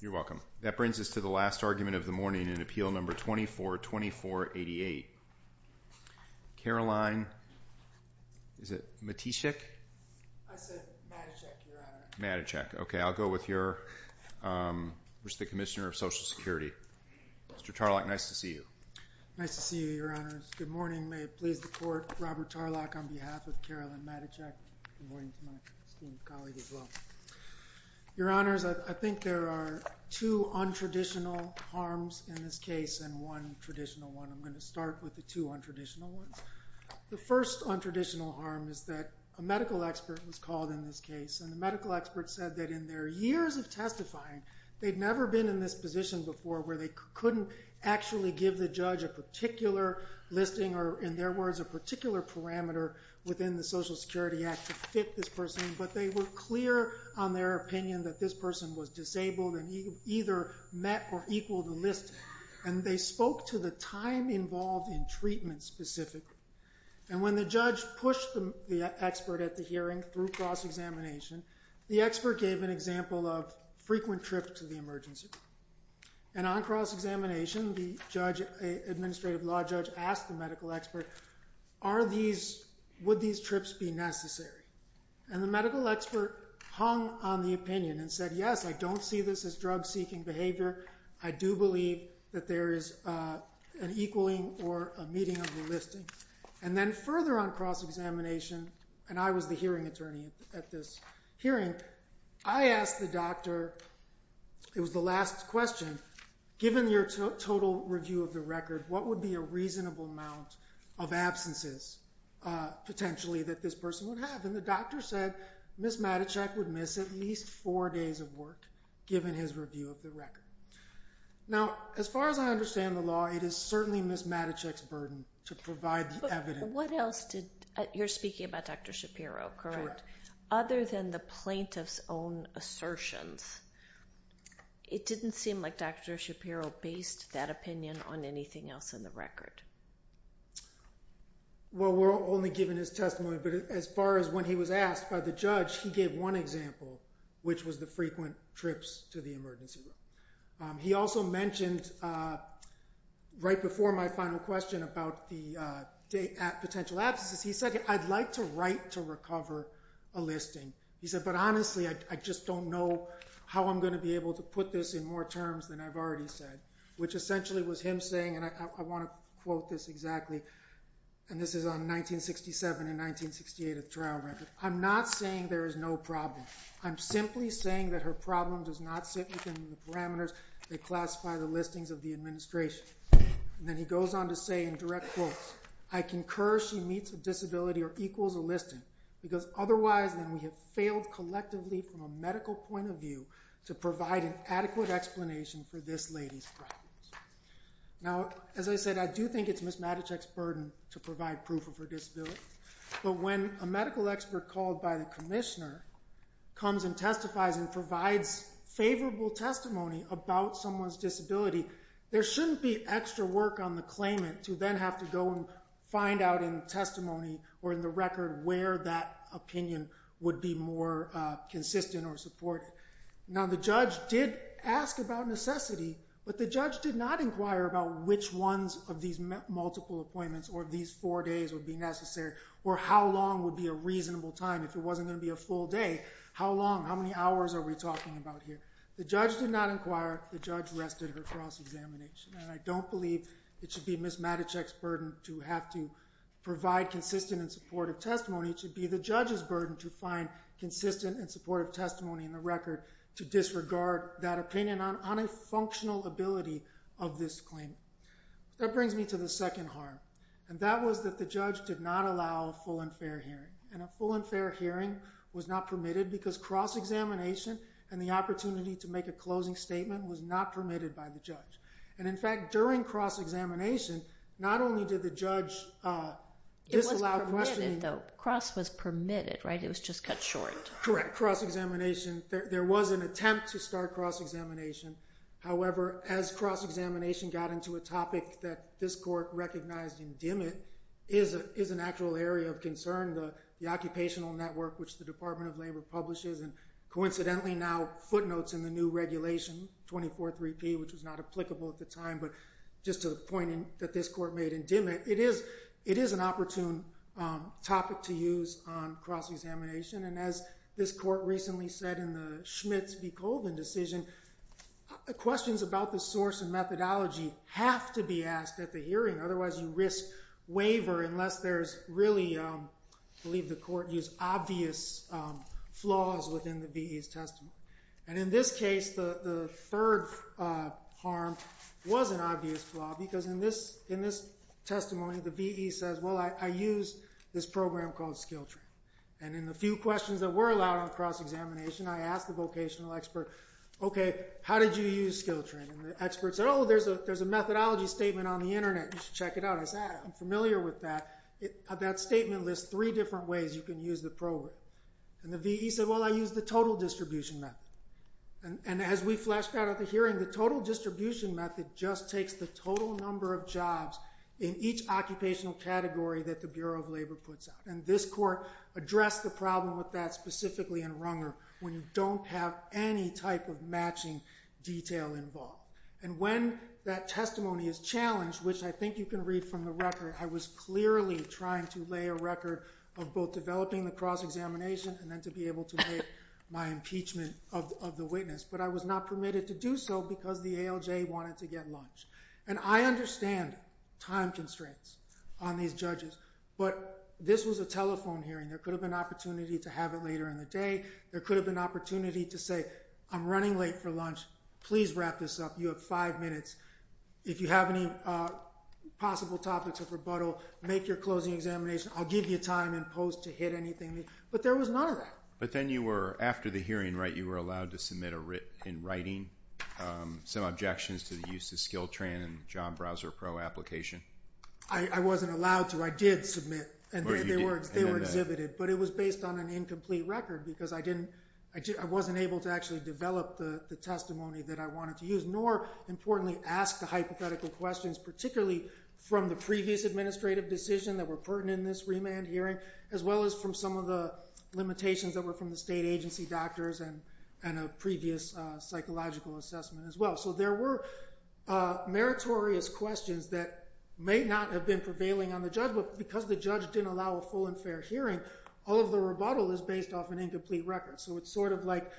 You're welcome. That brings us to the last argument of the morning in Appeal No. 242488. Caroline, is it Matthiscyk? I said Mathiscyk, Your Honor. Mathiscyk. Okay, I'll go with your, which is the Commissioner of Social Security. Mr. Tarlac, nice to see you. Nice to see you, Your Honors. Good morning. May it please the Court, Robert Tarlac on behalf of Caroline Mathiscyk. Good morning to my esteemed colleague as well. Your Honors, I think there are two untraditional harms in this case and one traditional one. I'm going to start with the two untraditional ones. The first untraditional harm is that a medical expert was called in this case and the medical expert said that in their years of testifying, they'd never been in this position before where they couldn't actually give the judge a particular listing or, in their words, a particular parameter within the Social Security Act to fit this person but they were clear on their opinion that this person was disabled and either met or equaled the listing. And they spoke to the time involved in treatment specifically. And when the judge pushed the expert at the hearing through cross-examination, the expert gave an example of frequent trip to the emergency room. And on cross-examination, the administrative law judge asked the medical expert, would these trips be necessary? And the medical expert hung on the opinion and said, yes, I don't see this as drug-seeking behavior. I do believe that there is an equaling or a meeting of the listing. And then further on cross-examination, and I was the hearing attorney at this hearing, I asked the doctor, it was the last question, given your total review of the record, what would be a reasonable amount of absences potentially that this person would have? And the doctor said Ms. Matichak would miss at least four days of work given his review of the record. Now, as far as I understand the law, it is certainly Ms. Matichak's burden to provide the evidence. But what else did, you're speaking about Dr. Shapiro, correct? Other than the plaintiff's own assertions, it didn't seem like Dr. Shapiro based that opinion on anything else in the record. Well, we're only given his testimony, but as far as when he was asked by the judge, he gave one example, which was the frequent trips to the emergency room. He also mentioned right before my final question about the potential absences, he said I'd like to write to recover a listing. He said, but honestly, I just don't know how I'm going to be able to put this in more terms than I've already said, which essentially was him saying, and I want to quote this exactly, and this is on 1967 and 1968 of the trial record, I'm not saying there is no problem. I'm simply saying that her problem does not sit within the parameters that classify the listings of the administration. And then he goes on to say in direct quotes, I concur she meets a disability or equals a listing, because otherwise then we have failed collectively from a medical point of view to provide an adequate explanation for this lady's problems. Now, as I said, I do think it's Ms. Matichak's burden to provide proof of her disability, but when a medical expert called by the commissioner comes and testifies and provides favorable testimony about someone's disability, there shouldn't be extra work on the claimant to then have to go and find out in testimony or in the record where that opinion would be more consistent or supported. Now, the judge did ask about necessity, but the judge did not inquire about which ones of these multiple appointments or these four days would be necessary or how long would be a reasonable time. If it wasn't going to be a full day, how long, how many hours are we talking about here? The judge did not inquire. The judge rested her cross-examination. And I don't believe it should be Ms. Matichak's burden to have to provide consistent and supportive testimony. It should be the judge's burden to find consistent and supportive testimony in the record to disregard that opinion on a functional ability of this claim. That brings me to the second harm, and that was that the judge did not allow a full and fair hearing. And a full and fair hearing was not permitted because cross-examination and the opportunity to make a closing statement was not permitted by the judge. And in fact, during cross-examination, not only did the judge disallow questioning— But cross was permitted, right? It was just cut short. Correct. Cross-examination, there was an attempt to start cross-examination. However, as cross-examination got into a topic that this court recognized in Dimit, is an actual area of concern, the occupational network which the Department of Labor publishes and coincidentally now footnotes in the new regulation, 243P, which was not applicable at the time, but just to the point that this court made in Dimit, it is an opportune topic to use on cross-examination. And as this court recently said in the Schmitz v. Colvin decision, questions about the source and methodology have to be asked at the hearing, otherwise you risk waiver unless there's really, I believe the court used, obvious flaws within the VE's testimony. And in this case, the third harm was an obvious flaw because in this testimony, the VE says, well, I use this program called SkillTrain. And in the few questions that were allowed on cross-examination, I asked the vocational expert, okay, how did you use SkillTrain? And the expert said, oh, there's a methodology statement on the internet. You should check it out. I said, I'm familiar with that. That statement lists three different ways you can use the program. And the VE said, well, I use the total distribution method. And as we fleshed out at the hearing, the total distribution method just takes the total number of jobs in each occupational category that the Bureau of Labor puts out. And this court addressed the problem with that specifically in Runger when you don't have any type of matching detail involved. And when that testimony is challenged, which I think you can read from the record, I was clearly trying to lay a record of both developing the cross-examination and then to be able to make my impeachment of the witness. But I was not permitted to do so because the ALJ wanted to get lunch. And I understand time constraints on these judges. But this was a telephone hearing. There could have been an opportunity to have it later in the day. There could have been an opportunity to say, I'm running late for lunch. Please wrap this up. You have five minutes. If you have any possible topics of rebuttal, make your closing examination. I'll give you time in post to hit anything. But there was none of that. But then after the hearing, right, you were allowed to submit in writing some objections to the use of SkillTran and Job Browser Pro application? I wasn't allowed to. I did submit. They were exhibited, but it was based on an incomplete record because I wasn't able to actually develop the testimony that I wanted to use, nor, importantly, ask the hypothetical questions, particularly from the previous administrative decision that were pertinent in this remand hearing as well as from some of the limitations that were from the state agency doctors and a previous psychological assessment as well. So there were meritorious questions that may not have been prevailing on the judge, but because the judge didn't allow a full and fair hearing, all of the rebuttal is based off an incomplete record. So it's sort of like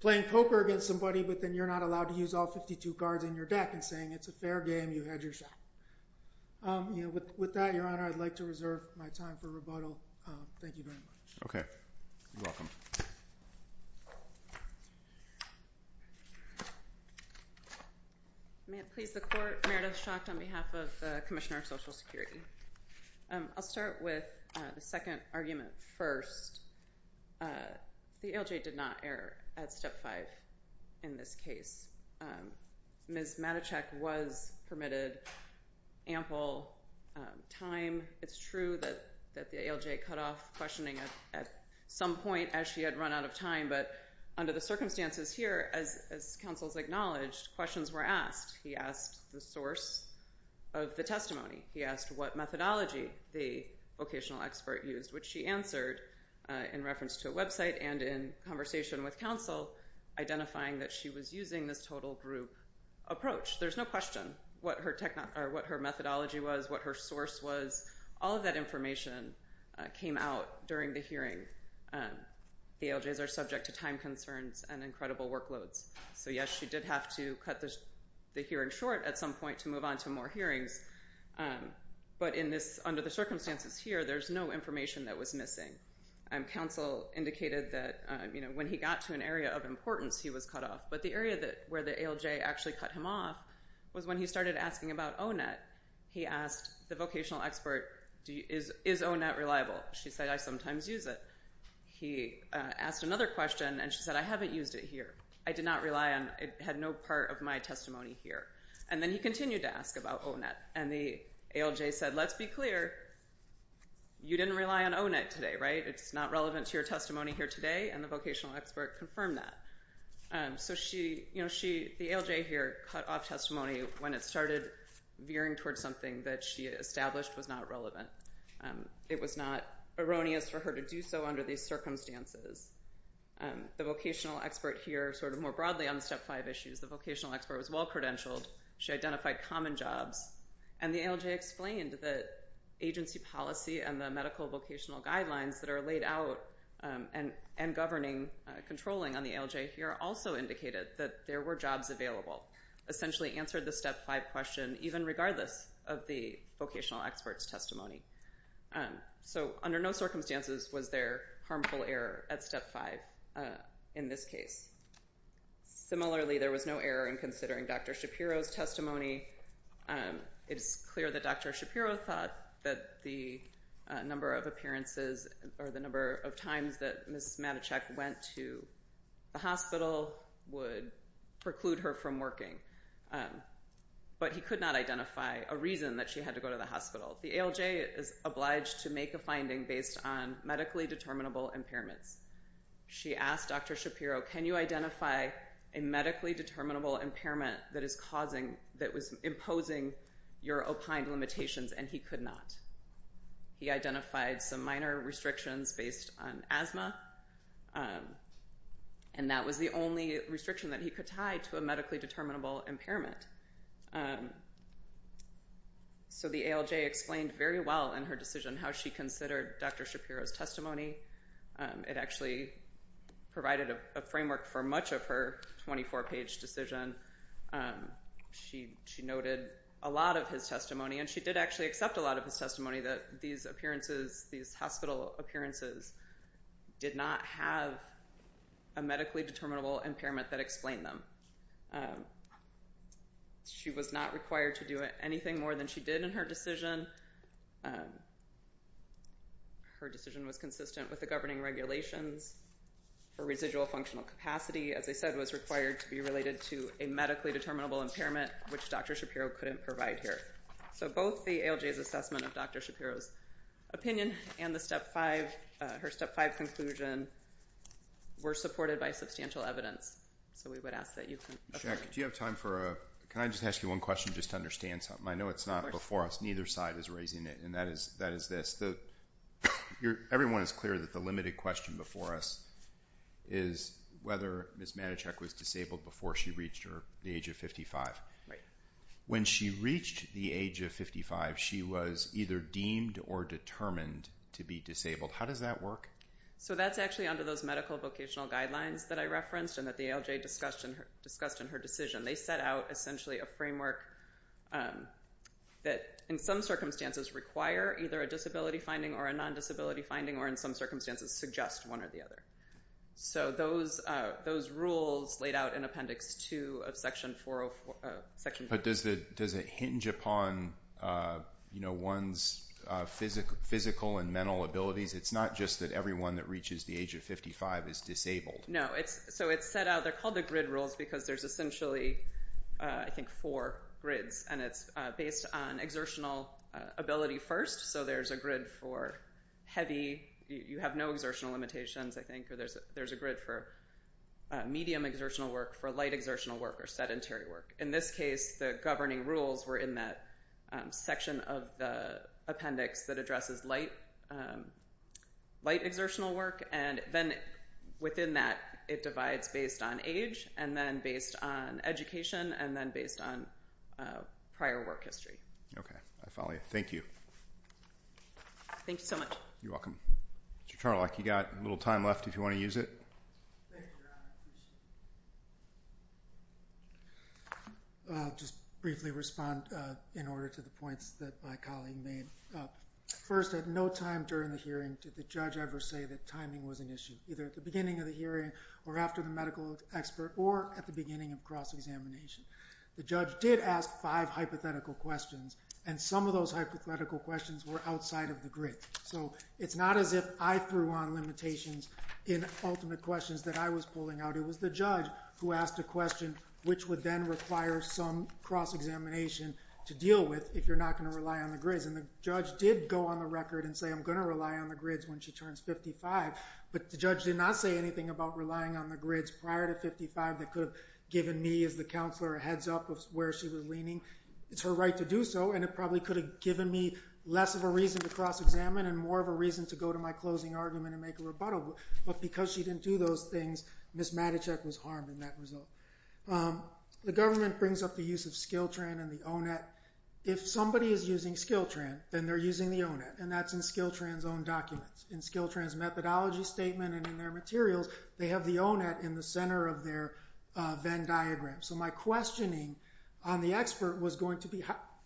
playing poker against somebody, but then you're not allowed to use all 52 cards in your deck and saying it's a fair game, you had your shot. With that, Your Honor, I'd like to reserve my time for rebuttal. Thank you very much. Okay. You're welcome. May it please the Court. Meredith Schacht on behalf of the Commissioner of Social Security. I'll start with the second argument first. The ALJ did not err at Step 5 in this case. Ms. Matichak was permitted ample time. It's true that the ALJ cut off questioning at some point as she had run out of time, but under the circumstances here, as counsel has acknowledged, questions were asked. He asked the source of the testimony. He asked what methodology the vocational expert used, which she answered in reference to a website and in conversation with counsel identifying that she was using this total group approach. There's no question what her methodology was, what her source was. All of that information came out during the hearing. ALJs are subject to time concerns and incredible workloads. So, yes, she did have to cut the hearing short at some point to move on to more hearings, but under the circumstances here, there's no information that was missing. Counsel indicated that when he got to an area of importance, he was cut off, but the area where the ALJ actually cut him off was when he started asking about O-Net. He asked the vocational expert, is O-Net reliable? She said, I sometimes use it. He asked another question, and she said, I haven't used it here. I did not rely on it. It had no part of my testimony here. And then he continued to ask about O-Net, and the ALJ said, let's be clear. You didn't rely on O-Net today, right? It's not relevant to your testimony here today, and the vocational expert confirmed that. So the ALJ here cut off testimony when it started veering towards something that she established was not relevant. It was not erroneous for her to do so under these circumstances. The vocational expert here, sort of more broadly on the Step 5 issues, the vocational expert was well credentialed. She identified common jobs. And the ALJ explained that agency policy and the medical vocational guidelines that are laid out and governing controlling on the ALJ here also indicated that there were jobs available, essentially answered the Step 5 question even regardless of the vocational expert's testimony. So under no circumstances was there harmful error at Step 5 in this case. Similarly, there was no error in considering Dr. Shapiro's testimony. It is clear that Dr. Shapiro thought that the number of appearances or the number of times that Ms. Matochek went to the hospital would preclude her from working. But he could not identify a reason that she had to go to the hospital. The ALJ is obliged to make a finding based on medically determinable impairments. She asked Dr. Shapiro, can you identify a medically determinable impairment that was imposing your opined limitations, and he could not. He identified some minor restrictions based on asthma, and that was the only restriction that he could tie to a medically determinable impairment. So the ALJ explained very well in her decision how she considered Dr. Shapiro's testimony. It actually provided a framework for much of her 24-page decision. She noted a lot of his testimony, and she did actually accept a lot of his testimony that these hospital appearances did not have a medically determinable impairment that explained them. She was not required to do anything more than she did in her decision. Her decision was consistent with the governing regulations. Her residual functional capacity, as I said, was required to be related to a medically determinable impairment, which Dr. Shapiro couldn't provide here. So both the ALJ's assessment of Dr. Shapiro's opinion and her Step 5 conclusion were supported by substantial evidence, so we would ask that you can... Jack, do you have time for a... Can I just ask you one question just to understand something? I know it's not before us. Neither side is raising it, and that is this. Everyone is clear that the limited question before us is whether Ms. Manachek was disabled before she reached the age of 55. When she reached the age of 55, she was either deemed or determined to be disabled. How does that work? So that's actually under those medical vocational guidelines that I referenced and that the ALJ discussed in her decision. They set out essentially a framework that in some circumstances require either a disability finding or a non-disability finding or in some circumstances suggest one or the other. So those rules laid out in Appendix 2 of Section 404... But does it hinge upon one's physical and mental abilities? It's not just that everyone that reaches the age of 55 is disabled. No. So it's set out. They're called the grid rules because there's essentially, I think, four grids, and it's based on exertional ability first. So there's a grid for heavy. You have no exertional limitations, I think. There's a grid for medium exertional work, for light exertional work, or sedentary work. In this case, the governing rules were in that section of the appendix that addresses light exertional work, and then within that it divides based on age and then based on education and then based on prior work history. Okay. I follow you. Thank you. Thank you so much. You're welcome. Mr. Charlock, you've got a little time left if you want to use it. I'll just briefly respond in order to the points that my colleague made. First, at no time during the hearing did the judge ever say that timing was an issue, either at the beginning of the hearing or after the medical expert or at the beginning of cross-examination. The judge did ask five hypothetical questions, and some of those hypothetical questions were outside of the grid. So it's not as if I threw on limitations in ultimate questions that I was pulling out. It was the judge who asked a question, which would then require some cross-examination to deal with if you're not going to rely on the grids. And the judge did go on the record and say, I'm going to rely on the grids when she turns 55. But the judge did not say anything about relying on the grids prior to 55 that could have given me as the counselor a heads-up of where she was leaning. It's her right to do so, and it probably could have given me less of a reason to cross-examine and more of a reason to go to my closing argument and make a rebuttal. But because she didn't do those things, Ms. Matichak was harmed in that result. The government brings up the use of SkillTran and the O-Net. If somebody is using SkillTran, then they're using the O-Net, and that's in SkillTran's own documents. In SkillTran's methodology statement and in their materials, they have the O-Net in the center of their Venn diagram. So my questioning on the expert was going to be,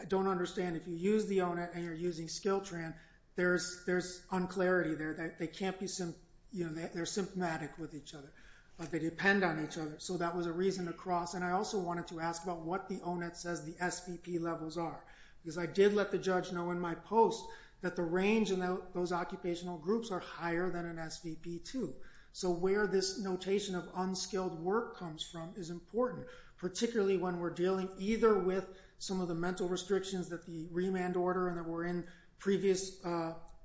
I don't understand if you use the O-Net and you're using SkillTran, there's unclarity there. They're symptomatic with each other, but they depend on each other. So that was a reason to cross. And I also wanted to ask about what the O-Net says the SVP levels are. Because I did let the judge know in my post that the range in those occupational groups are higher than an SVP, too. So where this notation of unskilled work comes from is important, particularly when we're dealing either with some of the mental restrictions that the remand order and that were in previous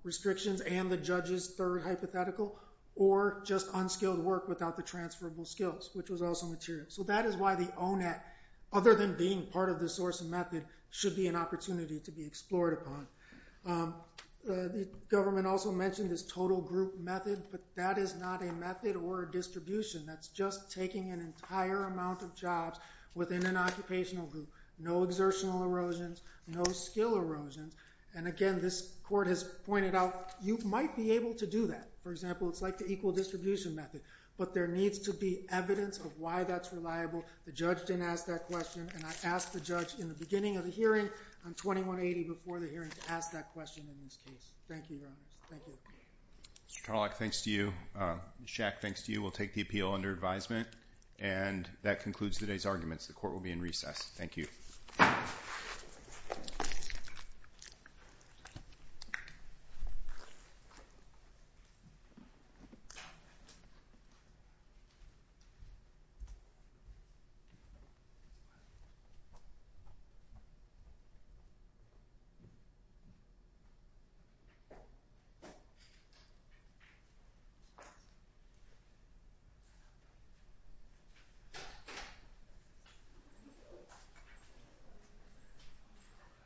restrictions and the judge's third hypothetical, or just unskilled work without the transferable skills, which was also material. So that is why the O-Net, other than being part of the source and method, should be an opportunity to be explored upon. The government also mentioned this total group method, but that is not a method or a distribution. That's just taking an entire amount of jobs within an occupational group. No exertional erosions, no skill erosions. And again, this court has pointed out you might be able to do that. For example, it's like the equal distribution method. But there needs to be evidence of why that's reliable. The judge didn't ask that question, and I asked the judge in the beginning of the hearing on 2180 before the hearing to ask that question in this case. Thank you, Your Honors. Thank you. Mr. Tarlock, thanks to you. Ms. Schack, thanks to you. We'll take the appeal under advisement. And that concludes today's arguments. The court will be in recess. Thank you. Thank you.